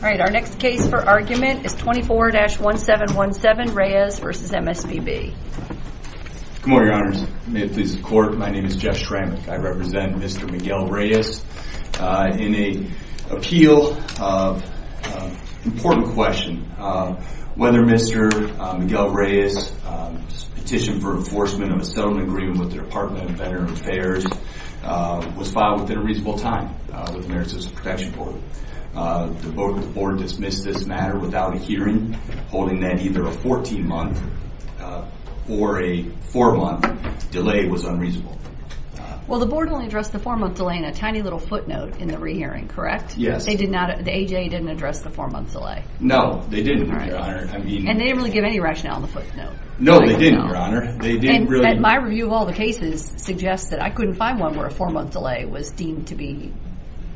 All right, our next case for argument is 24-1717 Reyes v. MSPB. Good morning, your honors. May it please the court, my name is Jeff Shramick. I represent Mr. Miguel Reyes in an appeal of an important question. Whether Mr. Miguel Reyes's petition for enforcement of a settlement agreement with the Department of Veterans Affairs was within a reasonable time with the American Citizens Protection Board. The board dismissed this matter without a hearing, holding that either a 14-month or a four-month delay was unreasonable. Well, the board only addressed the four-month delay in a tiny little footnote in the re-hearing, correct? Yes. They did not, the AJA didn't address the four-month delay. No, they didn't, your honor. I mean... And they didn't really give any rationale in the footnote. No, they didn't, your honor. They didn't really... And my review of all the cases suggests that I couldn't find one where a four-month delay was deemed to be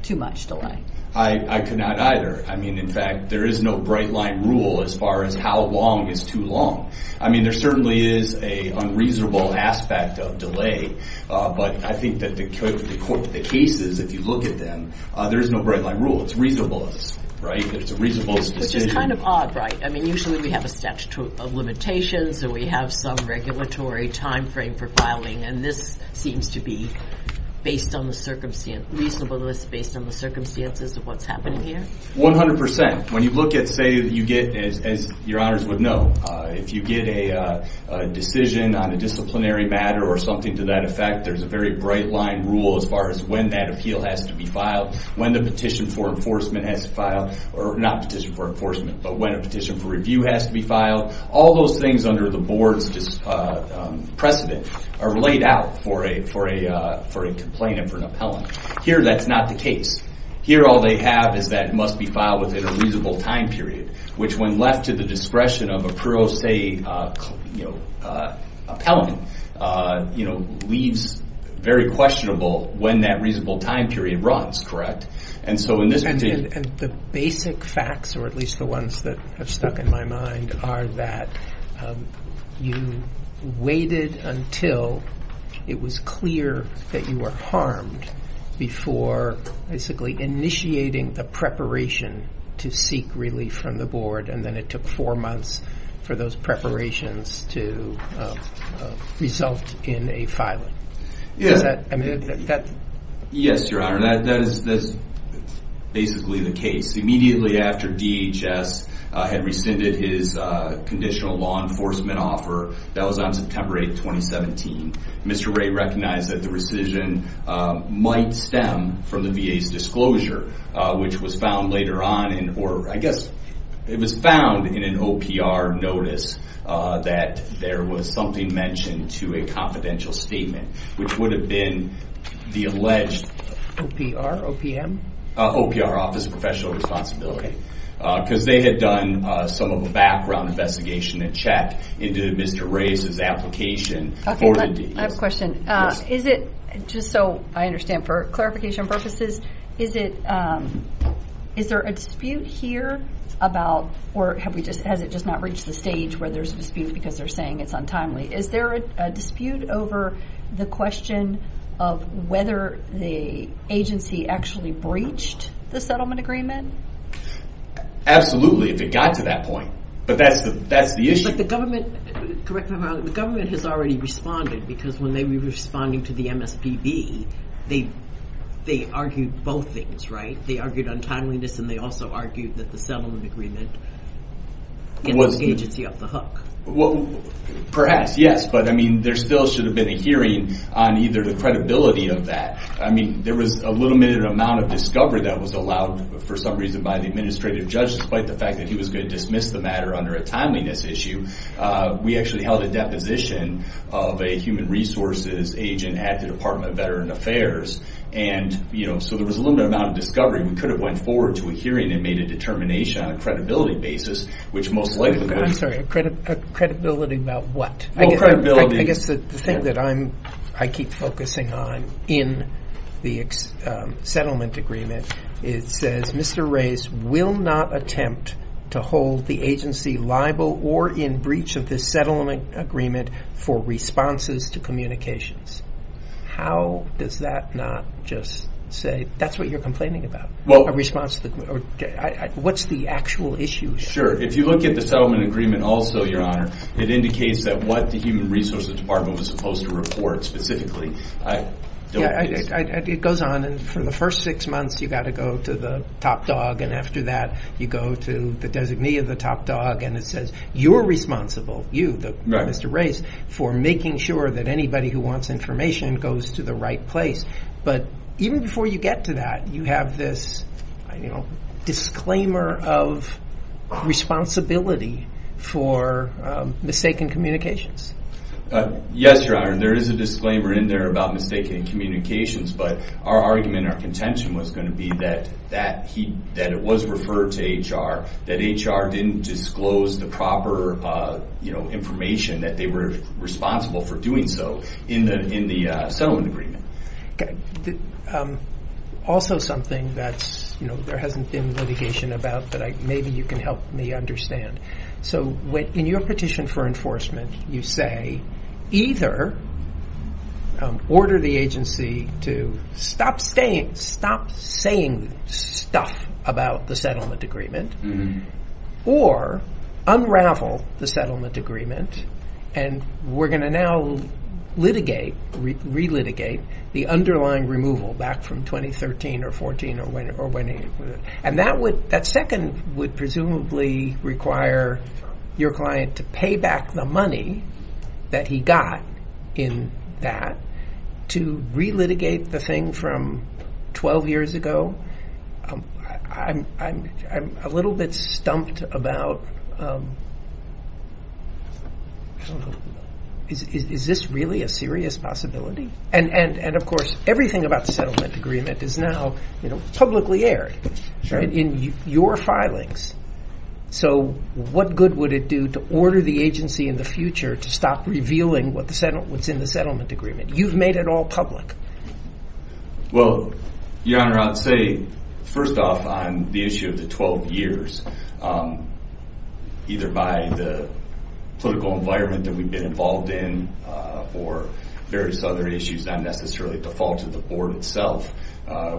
too much delay. I could not either. I mean, in fact, there is no bright-line rule as far as how long is too long. I mean, there certainly is a unreasonable aspect of delay, but I think that the cases, if you look at them, there is no bright-line rule. It's reasonableness, right? It's a reasonableness petition. Which is kind of odd, right? I mean, usually we have a statute of limitations and we have some regulatory time frame for filing, and this seems to be based on the circumstance, reasonableness based on the circumstances of what's happening here? 100%. When you look at, say, you get, as your honors would know, if you get a decision on a disciplinary matter or something to that effect, there's a very bright-line rule as far as when that appeal has to be filed, when the petition for enforcement has to file, or not petition for enforcement, but when a petition for review has to be filed. All those things under the board's precedent are laid out for a complainant, for an appellant. Here that's not the case. Here all they have is that it must be filed within a reasonable time period, which, when left to the discretion of a pro se appellant, leaves very questionable when that reasonable time period runs, correct? And so in this particular... And the basic facts, or at least the ones that have stuck in my mind, are that you waited until it was clear that you were harmed before basically initiating the preparation to seek relief from the board, and then it took four months for those preparations to result in a filing. Yes, Your Honor, that is basically the case. Immediately after DHS had rescinded his conditional law enforcement offer, that was on September 8th, 2017, Mr. Wray recognized that the rescission might stem from the VA's disclosure, which was found later on, or I guess it was found in an OPR notice that there was something mentioned to a confidential statement, which would have been the alleged... OPR, OPM? OPR, Office of Professional Responsibility, because they had done some of the background investigation and checked into Mr. Wray's application for the deed. I have a question. Is it, just so I understand for clarification purposes, is there a dispute here about, or has it just not reached the stage where there's a dispute because they're saying it's untimely? Is there a dispute over the question of whether the agency actually breached the settlement agreement? Absolutely, if it got to that point, but that's the issue. But the government, correct me if I'm wrong, the government has already responded, because when they were responding to the MSPB, they argued both things, right? They argued untimeliness and they also argued that the settlement agreement gets the agency off the hook. Well, perhaps, yes, but there still should have been a hearing on either the credibility of that. There was a limited amount of discovery that was allowed for some reason by the administrative judge, despite the fact that he was going to dismiss the matter under a timeliness issue. We actually held a deposition of a human resources agent at the Department of Veteran Affairs, and so there was a limited amount of discovery. We could have went forward to a hearing and made a determination on a credibility basis, which most likely would have... I'm sorry, a credibility about what? Well, credibility... I guess the thing that I keep focusing on in the settlement agreement, it says, Mr. Reyes will not attempt to hold the agency liable or in breach of this settlement agreement for responses to communications. How does that not just say, that's what you're complaining about? What's the actual issue here? Sure. If you look at the settlement agreement also, Your Honor, it indicates that what the Human Resources Department was supposed to report specifically... It goes on, and for the first six months, you got to go to the top dog, and after that, you go to the designee of the top dog, and it says, you're responsible, you, Mr. Reyes, for making sure that anybody who wants information goes to the right place. But even before you get to that, you have this disclaimer of responsibility for mistaken communications. Yes, Your Honor, there is a disclaimer in there about mistaken communications, but our argument, our contention was going to be that it was referred to HR, that HR didn't disclose the proper information, that they were responsible for doing so in the settlement agreement. Also something that there hasn't been litigation about, but maybe you can help me understand. So in your petition for enforcement, you say, either order the agency to stop saying stuff about the settlement agreement, or unravel the settlement agreement, and we're gonna now litigate, re-litigate the underlying removal back from 2013 or 14 or when... And that would, that second would presumably require your client to pay back the money that he got in that to re-litigate the thing from 12 years ago. I'm a little bit stumped about, I don't know, is this really a serious possibility? And of course, everything about the settlement agreement is now publicly aired in your filings. So what good would it do to order the agency in the future to stop revealing what's in the settlement agreement? You've made it all public. Well, Your Honor, I'd say, first off, on the issue of the 12 years, either by the political environment that we've been involved in, or various other issues, not necessarily at the fault of the board itself,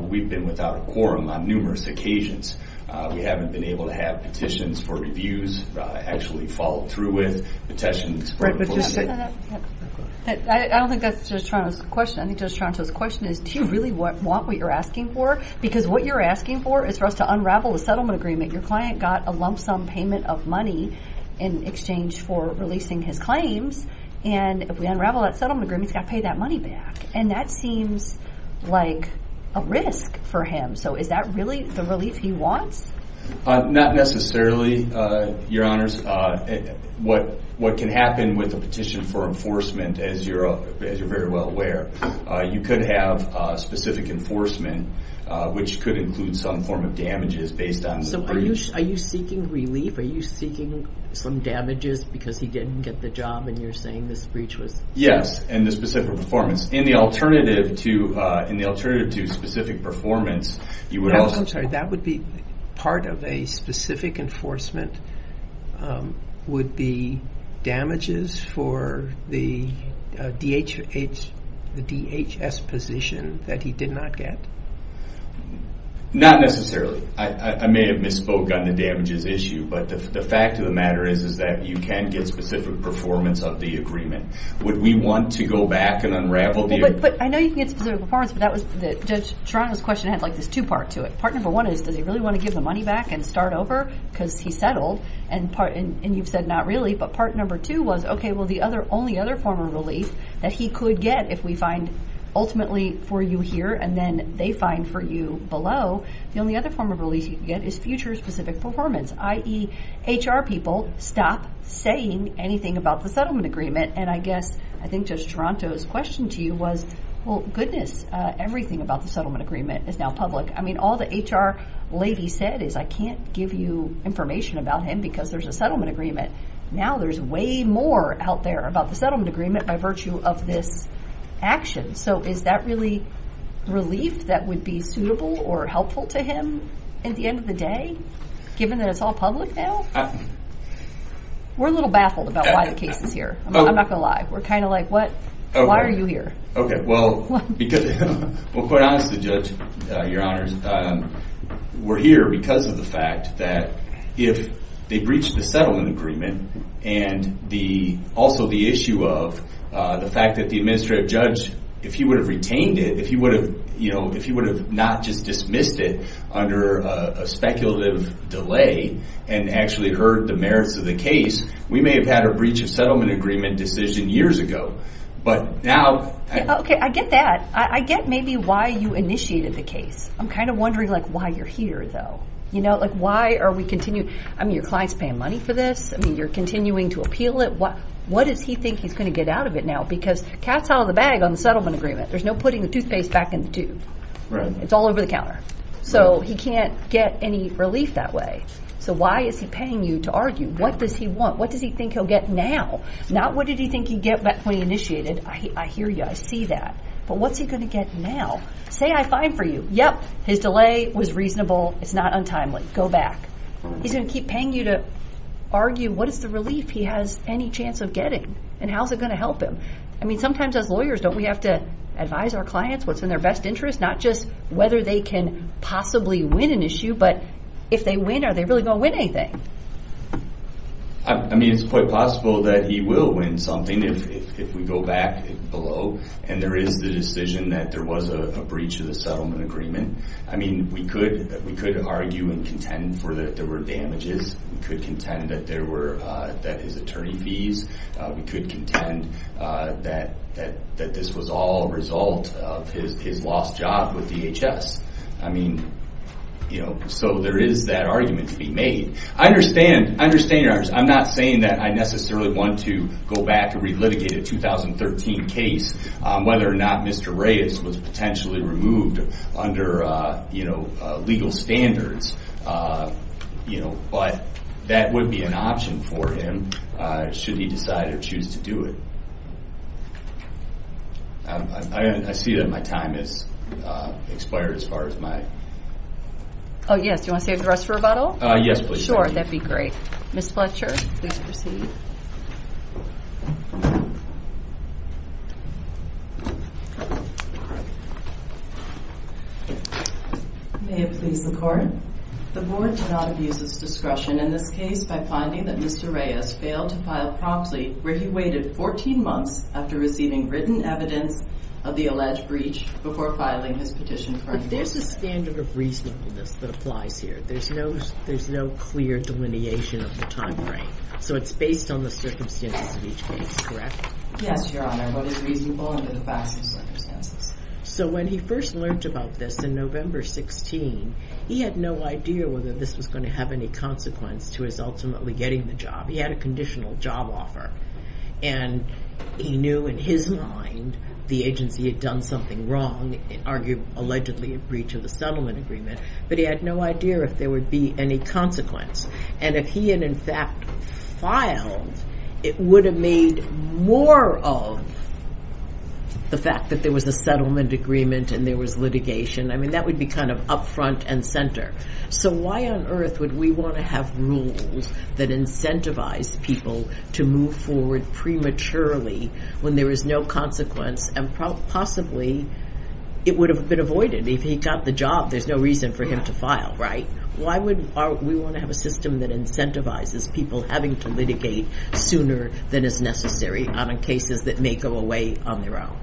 we've been without a quorum on numerous occasions. We haven't been able to have petitions for reviews actually followed through with, petitions for... I don't think that's Judge Toronto's question. I think Judge Toronto's question is, do you really want what you're asking for? Because what you're asking for is for us to get a lump sum payment of money in exchange for releasing his claims, and if we unravel that settlement agreement, he's got to pay that money back. And that seems like a risk for him. So is that really the relief he wants? Not necessarily, Your Honors. What can happen with a petition for enforcement, as you're very well aware, you could have specific enforcement, which could include some form of damages based on... Are you seeking relief? Are you seeking some damages because he didn't get the job, and you're saying this breach was... Yes, and the specific performance. In the alternative to specific performance, you would also... I'm sorry, that would be part of a specific enforcement, would be damages for the DHS position that he did not get? No, not necessarily. I may have misspoke on the damages issue, but the fact of the matter is, is that you can get specific performance of the agreement. Would we want to go back and unravel the... But I know you can get specific performance, but Judge Toronto's question had this two part to it. Part number one is, does he really want to give the money back and start over? Because he settled, and you've said not really, but part number two was, okay, well, the only other form of relief that he could get if we find ultimately for you here, and then they find for you below, the only other form of relief you can get is future specific performance, i.e. HR people stop saying anything about the settlement agreement. And I guess, I think Judge Toronto's question to you was, well, goodness, everything about the settlement agreement is now public. All the HR lady said is, I can't give you information about him because there's a settlement agreement. Now there's way more out there about the settlement agreement by virtue of this action. So is that really relief that would be suitable or helpful to him at the end of the day, given that it's all public now? We're a little baffled about why the case is here. I'm not going to lie. We're kind of like, why are you here? Okay. Well, quite honestly, Judge, Your Honors, we're here because of the fact that if they breached the settlement agreement and also the issue of the fact that the administrative judge, if he would have retained it, if he would have not just dismissed it under a speculative delay and actually heard the merits of the case, we may have had a breach of settlement agreement decision years ago. But now- Okay. I get that. I get maybe why you initiated the case. I'm kind of curious. I mean, your client's paying money for this. I mean, you're continuing to appeal it. What does he think he's going to get out of it now? Because cat's out of the bag on the settlement agreement. There's no putting the toothpaste back in the tube. It's all over the counter. So he can't get any relief that way. So why is he paying you to argue? What does he want? What does he think he'll get now? Not what did he think he'd get when he initiated. I hear you. I see that. But what's he going to get now? Say I fine for you. Yep. His delay was reasonable. It's not untimely. Go back. He's going to keep paying you to argue. What is the relief he has any chance of getting? And how is it going to help him? I mean, sometimes as lawyers, don't we have to advise our clients what's in their best interest? Not just whether they can possibly win an issue, but if they win, are they really going to win anything? I mean, it's quite possible that he will win something if we go back below and there is the decision that there was a breach of the agreement. We could argue and contend for that there were damages. We could contend that there were that his attorney fees. We could contend that this was all a result of his lost job with DHS. I mean, you know, so there is that argument to be made. I understand. I understand. I'm not saying that I necessarily want to go back to relitigate a 2013 case, whether or not Mr. Reyes was potentially removed under legal standards, but that would be an option for him should he decide or choose to do it. I see that my time has expired as far as my... Oh, yes. Do you want to save the rest for rebuttal? Yes, please. Sure. That'd be great. Ms. Fletcher, please proceed. May it please the Court. The Board cannot abuse its discretion in this case by finding that Mr. Reyes failed to file promptly where he waited 14 months after receiving written evidence of the alleged breach before filing his petition for... There's a standard of reasonableness that applies here. There's no clear delineation of the time frame. So it's based on the circumstances of each case, correct? Yes, Your Honor. What is reasonable under the facts and circumstances? So when he first learned about this in November 16, he had no idea whether this was going to have any consequence to his ultimately getting the job. He had a conditional job offer, and he knew in his mind the agency had done something wrong, argued allegedly a breach of the settlement agreement, but he had no idea if there would be any consequence. And if he had, in fact, filed, it would have made more of the fact that there was a settlement agreement and there was litigation. I mean, that would be kind of upfront and center. So why on earth would we want to have rules that incentivize people to move forward prematurely when there is no consequence and possibly it would have been avoided. If he got the job, there's no reason for him to file, right? Why would we want to have a system that incentivizes people having to litigate sooner than is necessary on cases that may go away on their own?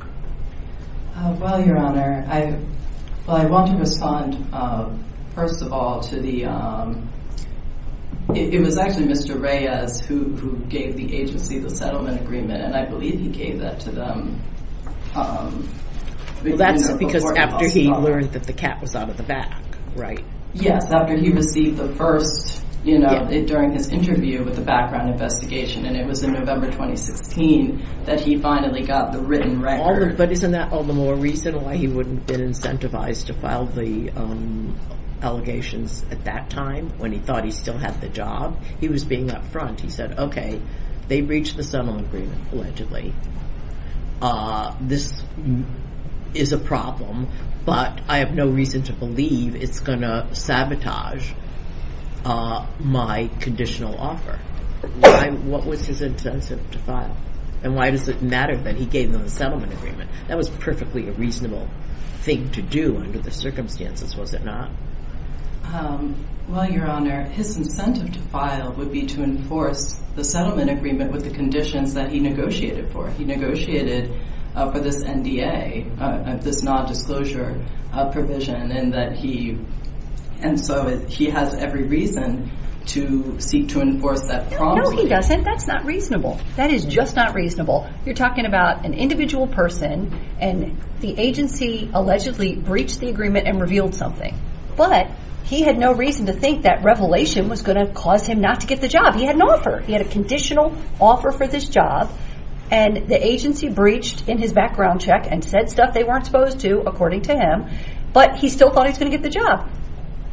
Well, Your Honor, I want to respond, first of all, to the... It was actually Mr. Reyes who gave the agency the settlement agreement, and I believe he gave that to them... That's because after he learned that the cat was out of the bag, right? Yes, after he received the first... During his interview with the background investigation, and it was in November 2016 that he finally got the written record. But isn't that all the more reason why he wouldn't have been incentivized to file the allegations at that time when he thought he still had the job? He was being upfront. He said, okay, they breached the settlement agreement, allegedly. This is a problem, but I have no to believe it's gonna sabotage my conditional offer. What was his incentive to file? And why does it matter that he gave them the settlement agreement? That was perfectly a reasonable thing to do under the circumstances, was it not? Well, Your Honor, his incentive to file would be to enforce the settlement agreement with the conditions that he negotiated for. He negotiated for this NDA, this non-disclosure provision. And so he has every reason to seek to enforce that promise. No, he doesn't. That's not reasonable. That is just not reasonable. You're talking about an individual person, and the agency allegedly breached the agreement and revealed something. But he had no reason to think that revelation was gonna cause him not to get the job. He had a conditional offer for this job, and the agency breached in his background check and said stuff they weren't supposed to, according to him, but he still thought he was gonna get the job.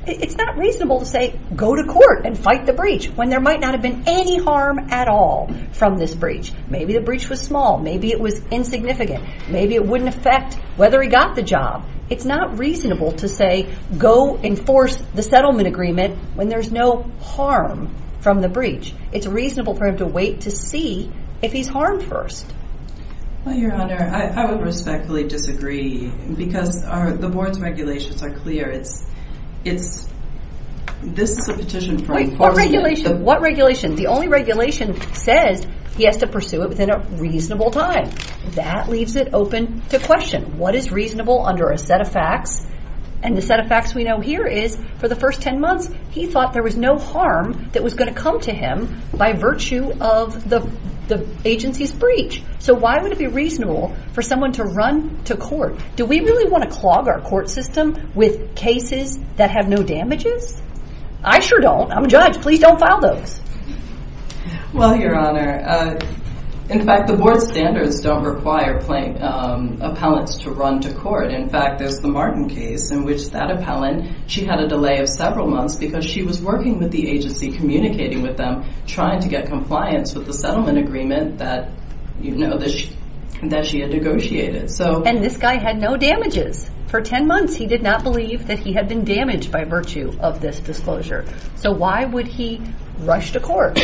It's not reasonable to say, go to court and fight the breach when there might not have been any harm at all from this breach. Maybe the breach was small. Maybe it was insignificant. Maybe it wouldn't affect whether he got the job. It's not reasonable to say, go enforce the settlement agreement when there's no harm from the breach. It's reasonable for him to wait to see if he's harmed first. Your Honor, I would respectfully disagree because the board's regulations are clear. This is a petition for enforcement. What regulation? The only regulation says he has to pursue it within a reasonable time. That leaves it open to question. What is reasonable under a set of facts? And the set of facts we know here is, for the first 10 months, he thought there was no harm that was gonna come to him by virtue of the agency's breach. So why would it be reasonable for someone to run to court? Do we really wanna clog our court system with cases that have no damages? I sure don't. I'm a judge. Please don't file those. Well, Your Honor, in fact, the board's standards don't require appellants to run to court. In fact, there's the Martin case in which that appellant, she had a delay of several months because she was working with the agency, communicating with them, trying to get compliance with the settlement agreement that she had negotiated. And this guy had no damages. For 10 months, he did not believe that he had been damaged by virtue of this disclosure. So why would he rush to court?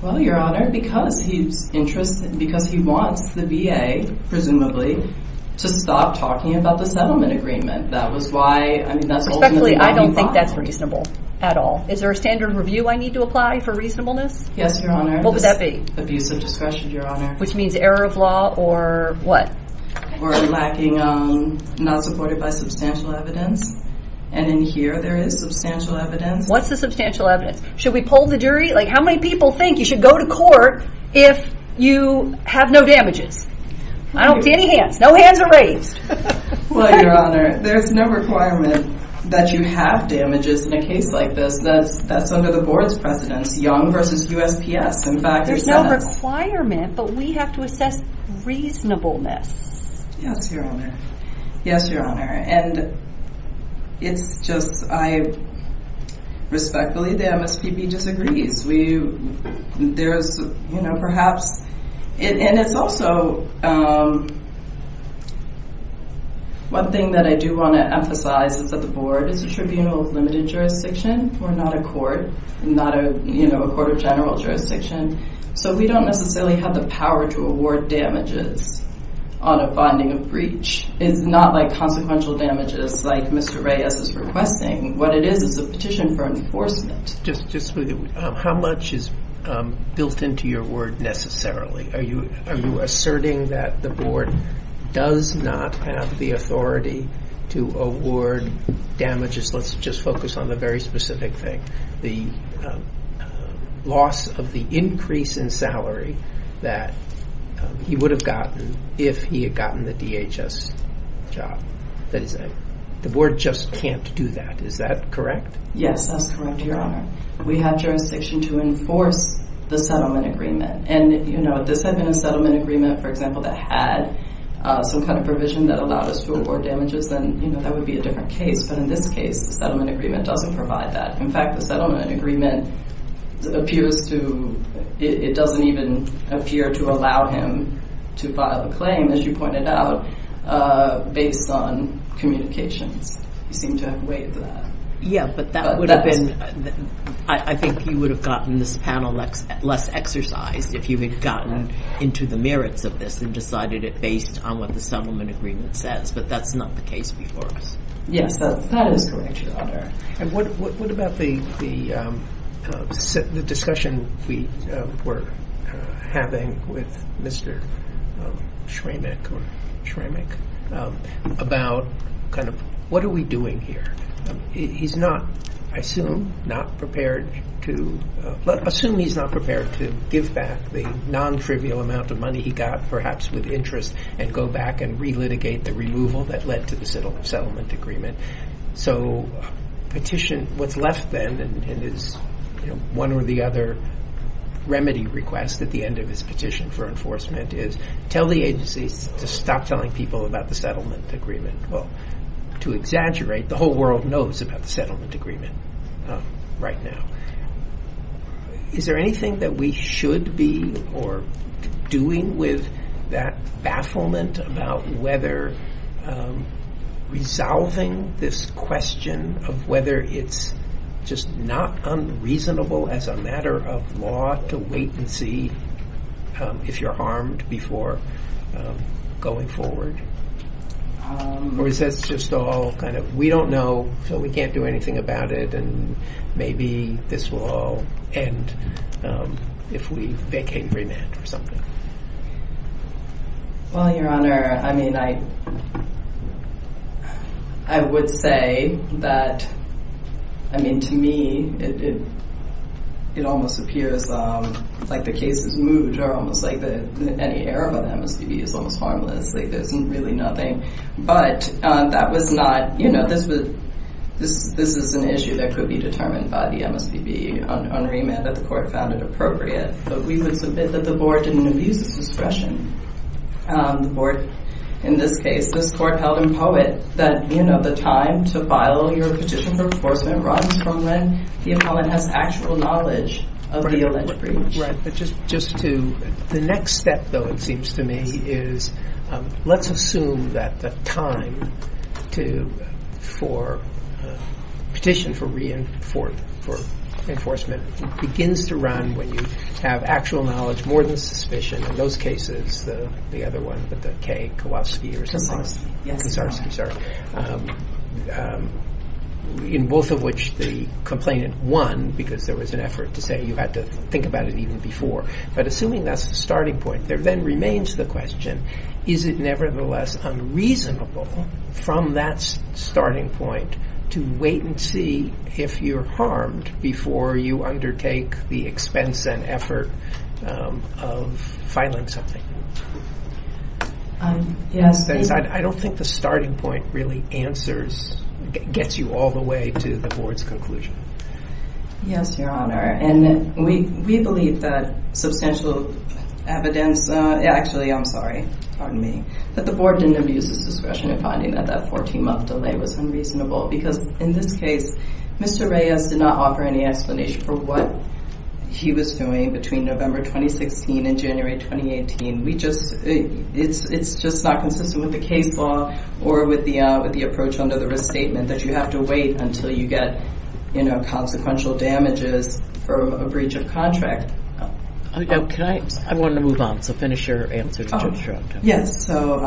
Well, Your Honor, because he's interested, because he wants the VA, presumably, to stop talking about the settlement agreement. That was why, I mean, that's ultimately why he fought. Respectfully, I don't think that's reasonable at all. Is there a standard review I need to apply for reasonableness? Yes, Your Honor. What would that be? Abusive discretion, Your Honor. Which means error of law or what? Or lacking, not supported by substantial evidence. And in here, there is substantial evidence. What's the substantial evidence? Should we pull the jury? How many people think you should go to court if you have no damages? I don't see any hands. No hands are raised. Well, Your Honor, there's no requirement that you have damages in a case like this. That's under the board's precedence, Young versus USPS. In fact, there's no... There's no requirement, but we have to assess reasonableness. Yes, Your Honor. Yes, Your Honor. And it's just, I respectfully, the MSPB disagrees. We... There's perhaps... And it's also... One thing that I do want to emphasize is that the board is a tribunal of limited jurisdiction. We're not a court, not a court of general jurisdiction. So we don't necessarily have the power to award damages on a bonding of breach. It's not like consequential damages like Mr. Reyes is requesting. What it is, is a petition for enforcement. Just... How much is built into your word necessarily? Are you asserting that the board does not have the authority to award damages? Let's just focus on the very specific thing. The loss of the increase in salary that he would have gotten if he had gotten the DHS job. The board just can't do that. Is that correct? Yes, that's correct, Your Honor. We have jurisdiction to enforce the settlement agreement. And this had been a settlement agreement, for example, that had some kind of provision that allowed us to award damages, then that would be a different case. But in this case, the settlement agreement doesn't provide that. In fact, the settlement agreement appears to... It doesn't even appear to allow him to file a claim, as you pointed out, based on communications. You seem to have weighed that. Yeah, but that would have been... I think you would have gotten this panel less exercised if you had gotten into the merits of this and decided it based on what the settlement agreement says. But that's not the case before us. Yes, that is correct, Your Honor. And what about the discussion we were having with Mr. Schramick about what are we doing here? He's not, I assume, not prepared to... Assume he's not prepared to give back the non-trivial amount of money he got, perhaps with interest, and go back and re-litigate the removal that led to the settlement agreement. So petition... What's left then, and is one or the other remedy request at the end of his petition for enforcement, is tell the agencies to stop telling people about the settlement agreement. Well, to exaggerate, the whole world knows about the settlement agreement right now. Is there anything that we should be doing with that bafflement about whether resolving this question of whether it's just not unreasonable as a matter of law to wait and see if you're armed before going forward? Or is this just all kind of, we don't know, so we can't do anything about it, and maybe this will all end if we vacate remand or something? Well, Your Honor, I mean, I would say that, I mean, to me, it almost appears like the case is moot, or almost like any error by the MSPB is almost harmless, like there's really nothing. But that was not, you know, this is an issue that could be determined by the MSPB on remand that the court found it appropriate, but we would submit that the board didn't abuse its discretion. The board, in this case, this court held in POET that, you know, the time to file your petition for enforcement runs from when the appellant has actual knowledge of the alleged breach. Right, but just to, the next step, though, it seems to me, is let's assume that the time to, for petition for reinforcement begins to run when you have actual knowledge more than suspicion, in those cases, the other one with the K, Kowalski or something, Kowalski, I'm sorry, in both of which the complainant won because there was an effort to say you had to think about it even before. But assuming that's the starting point, there then remains the question, is it nevertheless unreasonable from that starting point to wait and see if you're harmed before you undertake the expense and effort of filing something? I don't think the starting point really answers, gets you all the way to the board's conclusion. Yes, Your Honor, and we believe that substantial evidence, actually, I'm sorry, pardon me, that the board didn't abuse its discretion in finding that that 14-month delay was unreasonable because, in this case, Mr. Reyes did not offer any explanation for what he was doing between November 2016 and January 2018. We just, it's just not consistent with the case law or with the approach under the restatement that you have to wait until you get, you know, consequential damages from a breach of contract. I want to move on, so finish your answer. Yes, so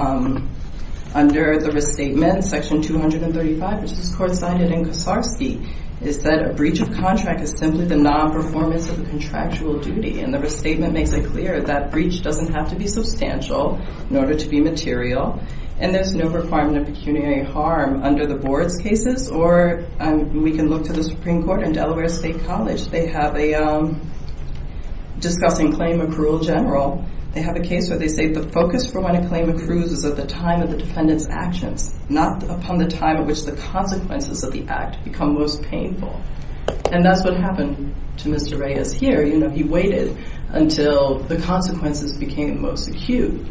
under the restatement, Section 235, which is court-sided in Kosarsky, is that a breach of contract is simply the non-performance of the contractual duty. And the restatement makes it clear that breach doesn't have to be substantial in order to be material, and there's no requirement of pecuniary harm under the board's cases, or we can look to the Supreme Court and Delaware State College. They have a discussing claim accrual general. They have a case where they say the focus for when a claim accrues is at the time of the defendant's actions, not upon the time at which the consequences of the act become most painful. And that's what happened to Mr. Reyes here. You know, he waited until the consequences became most acute,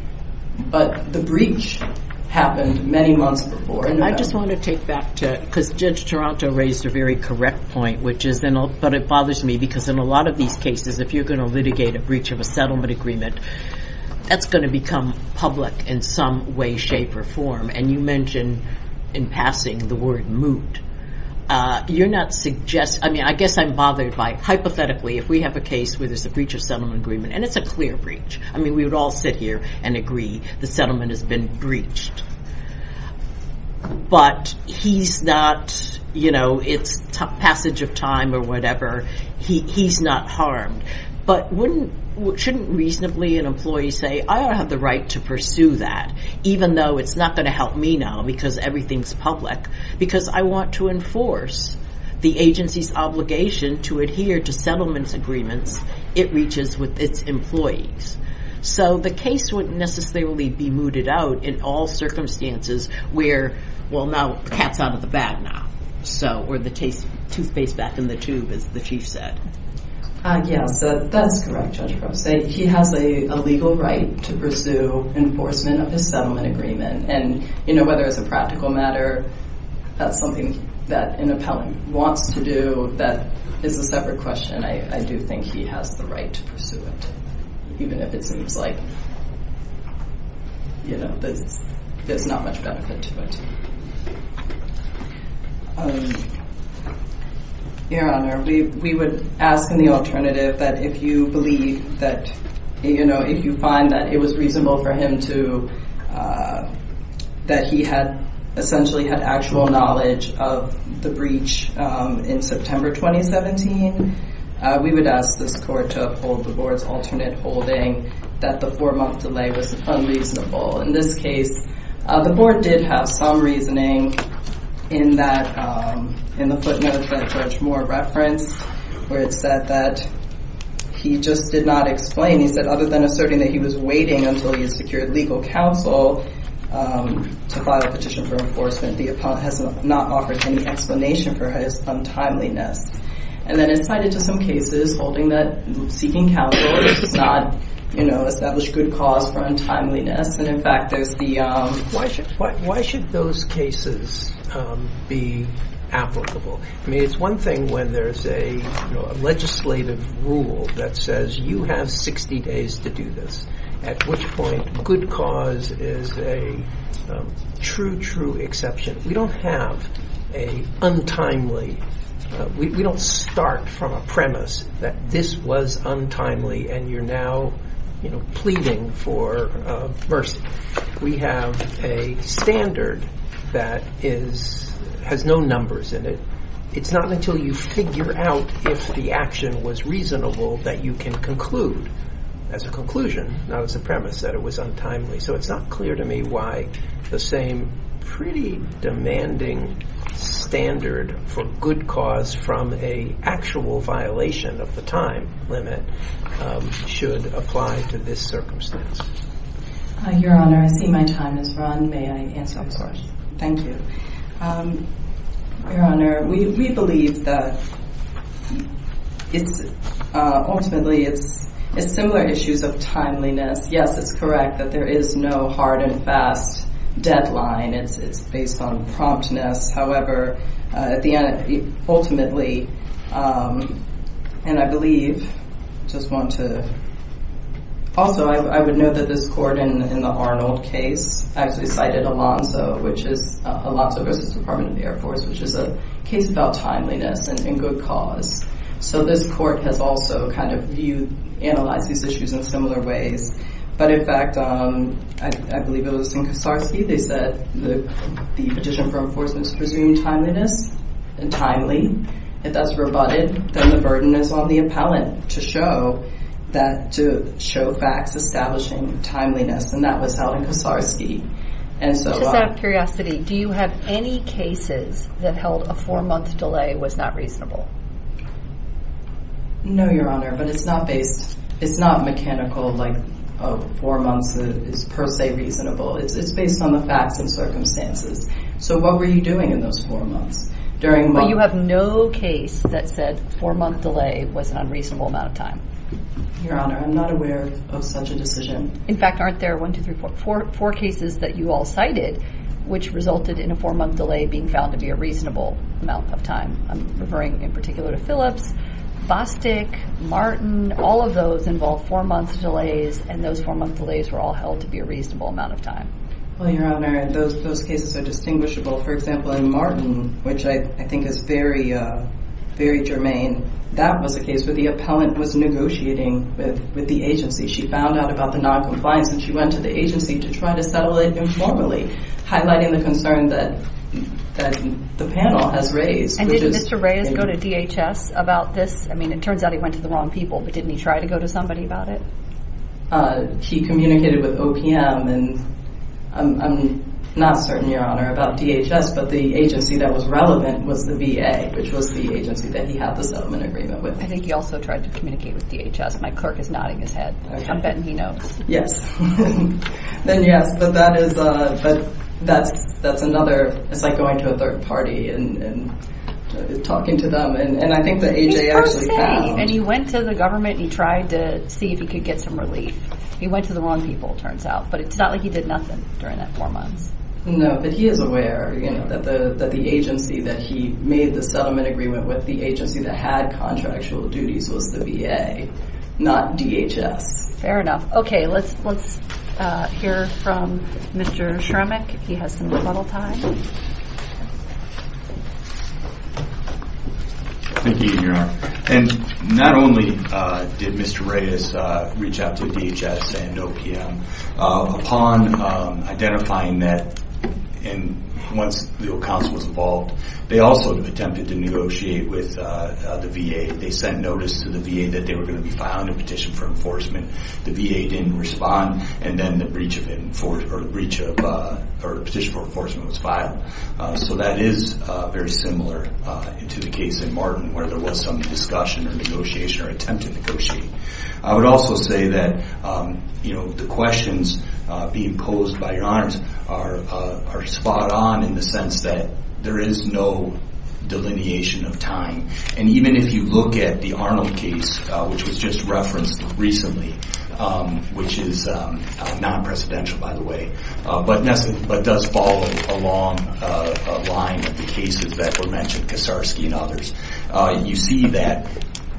but the breach happened many months before. And I just want to take back to, because Judge Toronto raised a very correct point, which is, and it bothers me, because in a lot of these cases, if you're going to litigate a breach of a settlement agreement, that's going to become public in some way, shape, or form. And you mentioned in passing the word moot. You're not suggesting, I mean, I guess I'm bothered by, hypothetically, if we have a case where there's a breach of settlement agreement, and it's a clear breach. I mean, we would all sit here and agree the settlement has been breached. But he's not, you know, it's passage of time or whatever. He's not harmed. But shouldn't reasonably an employee say, I don't have the right to pursue that, even though it's not going to help me now, because everything's public, because I want to enforce the agency's obligation to adhere to settlements agreements it reaches with its employees. So the case wouldn't necessarily be mooted out in all circumstances where, well, now the cat's out of the bag now, or the toothpaste back in the tube, as the Chief said. Yes, that's correct, Judge Gross. He has a legal right to pursue enforcement of his settlement agreement. And, you know, whether it's a practical matter, that's something that an appellant wants to do, that is a separate question. I do think he has the right to pursue it, even if it seems like, you know, there's not much benefit to it. Your Honor, we would ask in the alternative that if you believe that, you know, if you find that it was reasonable for him to, that he had essentially had actual knowledge of the breach in September 2017, we would ask this Court to uphold the Board's alternate holding that the four-month delay was unreasonable. In this case, the Board did have some reasoning in that, in the footnotes that Judge Moore referenced, where it said that he just did not explain, he said, other than asserting that he was waiting until he had secured legal counsel to file a petition for enforcement, the appellant has not offered any explanation for his untimeliness. And then it's cited to some cases holding that seeking counsel does not, you know, establish good cause for untimeliness. And, in fact, there's the... Why should those cases be applicable? I mean, it's one thing when there's a, you know, 60 days to do this, at which point good cause is a true, true exception. We don't have a untimely, we don't start from a premise that this was untimely and you're now, you know, pleading for mercy. We have a standard that is, has no numbers in it. It's not until you figure out if the action was reasonable that you can conclude, as a conclusion, not as a premise, that it was untimely. So it's not clear to me why the same pretty demanding standard for good cause from a actual violation of the time limit should apply to this circumstance. Your Honor, I see my time has run. May I answer, of course? Thank you. Your Honor, we believe that it's, ultimately, it's similar issues of timeliness. Yes, it's correct that there is no hard and fast deadline. It's based on promptness. However, at the end, ultimately, and I believe, just want to... Also, I would note that this court in the Los Alamos Department of the Air Force, which is a case about timeliness and good cause. So this court has also kind of viewed, analyzed these issues in similar ways. But in fact, I believe it was in Kosarsky, they said the petition for enforcement's presumed timeliness and timely. If that's rebutted, then the burden is on the appellant to show facts establishing timeliness. And that was out in Kosarsky. Just out of curiosity, do you have any cases that held a four-month delay was not reasonable? No, Your Honor, but it's not based... It's not mechanical, like, four months is per se reasonable. It's based on the facts and circumstances. So what were you doing in those four months? During... But you have no case that said four-month delay was an unreasonable amount of time? Your Honor, I'm not aware of such a decision. In fact, aren't there one, two, three, four cases that you all cited, which resulted in a four-month delay being found to be a reasonable amount of time? I'm referring in particular to Phillips, Bostic, Martin, all of those involved four-month delays, and those four-month delays were all held to be a reasonable amount of time. Well, Your Honor, those cases are distinguishable. For example, in Martin, which I think is very, very germane, that was a case where the appellant was negotiating with the agency. She found out about the noncompliance, and she went to the agency to try to settle it informally, highlighting the concern that the panel has raised, which is... And did Mr. Reyes go to DHS about this? I mean, it turns out he went to the wrong people, but didn't he try to go to somebody about it? He communicated with OPM, and I'm not certain, Your Honor, about DHS, but the agency that was relevant was the VA, which was the agency that he had the settlement agreement with. I think he also tried to communicate with DHS. My clerk is nodding his head. I'm betting he knows. Yes. Then, yes, but that's another... It's like going to a third party and talking to them, and I think that AJ actually found... And he went to the government, and he tried to see if he could get some relief. He went to the wrong people, it turns out, but it's not like he did nothing during that four months. No, but he is aware that the agency that he made the settlement agreement with, the agency that had contractual duties was the VA, not DHS. Fair enough. Okay, let's hear from Mr. Shremek. He has some rebuttal time. Thank you, Your Honor. And not only did Mr. Reyes reach out to DHS and OPM, upon identifying that, and once the counsel was involved, they also attempted to negotiate with the VA. They sent notice to the VA that they were going to be filing a petition for enforcement. The VA didn't respond, and then the petition for enforcement was filed. So that is very similar into the case in Martin, where there was some discussion or negotiation or attempt to negotiate. I would also say that the questions being posed by Your Honors are spot on in the sense that there is no delineation of time. And even if you look at the Arnold case, which was just referenced recently, which is non-presidential, by the way, but does follow a long line of the cases that were mentioned, Kaczarski and others, you see that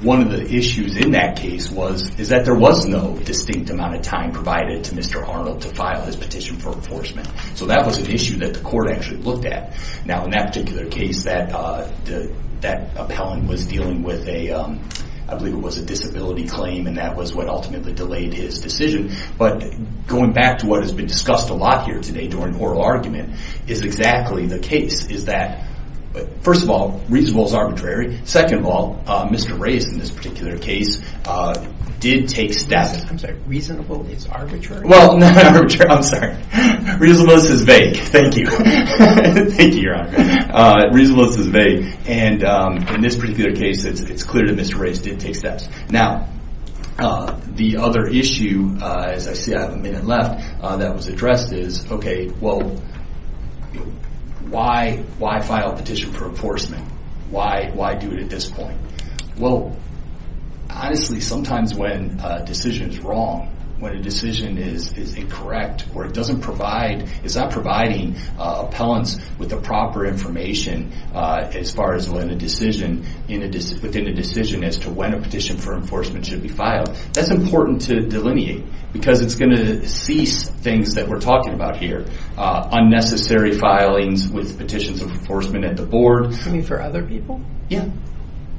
one of the issues in that case is that there was no distinct amount of time provided to Mr. Arnold to file his petition for enforcement. So that was an issue that the court actually looked at. Now, in that particular case, that appellant was dealing with a, I believe it was a disability claim, and that was what ultimately delayed his decision. But going back to what has been discussed a lot here today during oral argument, is exactly the case. Is that, first of all, reasonable is arbitrary. Second of all, Mr. Reyes, in this particular case, did take steps. I'm sorry, reasonable is arbitrary. Well, not arbitrary, I'm sorry. Reasonable is vague. Thank you. Thank you, Your Honor. Reasonable is vague. And in this particular case, it's clear that Mr. Reyes did take steps. Now, the other issue, as I see I have a minute left, that was addressed is, okay, well, why file a petition for enforcement? Why do it at this point? Well, honestly, sometimes when a decision is wrong, when a decision is incorrect, or it doesn't provide, it's not providing appellants with the proper information as far as when a decision, within a decision as to when a petition for enforcement should be filed, that's important to delineate. Because it's going to things that we're talking about here. Unnecessary filings with petitions of enforcement at the board. You mean for other people? Yeah.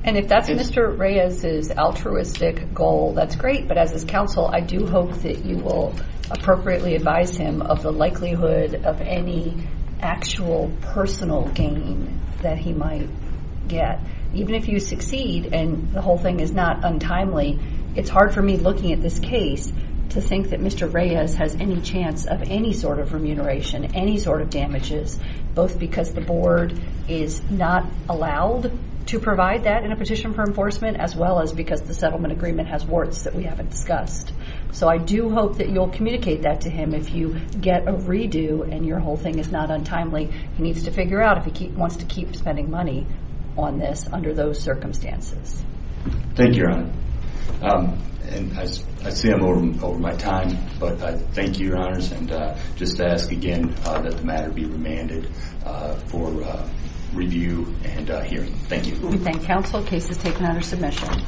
And if that's Mr. Reyes's altruistic goal, that's great. But as his counsel, I do hope that you will appropriately advise him of the likelihood of any actual personal gain that he might get. Even if you succeed, and the whole thing is not untimely, it's hard for me looking at this case to think that Mr. Reyes has any chance of any sort of remuneration, any sort of damages, both because the board is not allowed to provide that in a petition for enforcement, as well as because the settlement agreement has warts that we haven't discussed. So I do hope that you'll communicate that to him if you get a redo and your whole thing is not untimely. He needs to figure out if he wants to keep spending money on this under those circumstances. Thank you, Your Honor. And I see I'm over my time, but I thank you, Your Honors. And just to ask again that the matter be remanded for review and hearing. Thank you. We thank counsel. Case is taken under submission.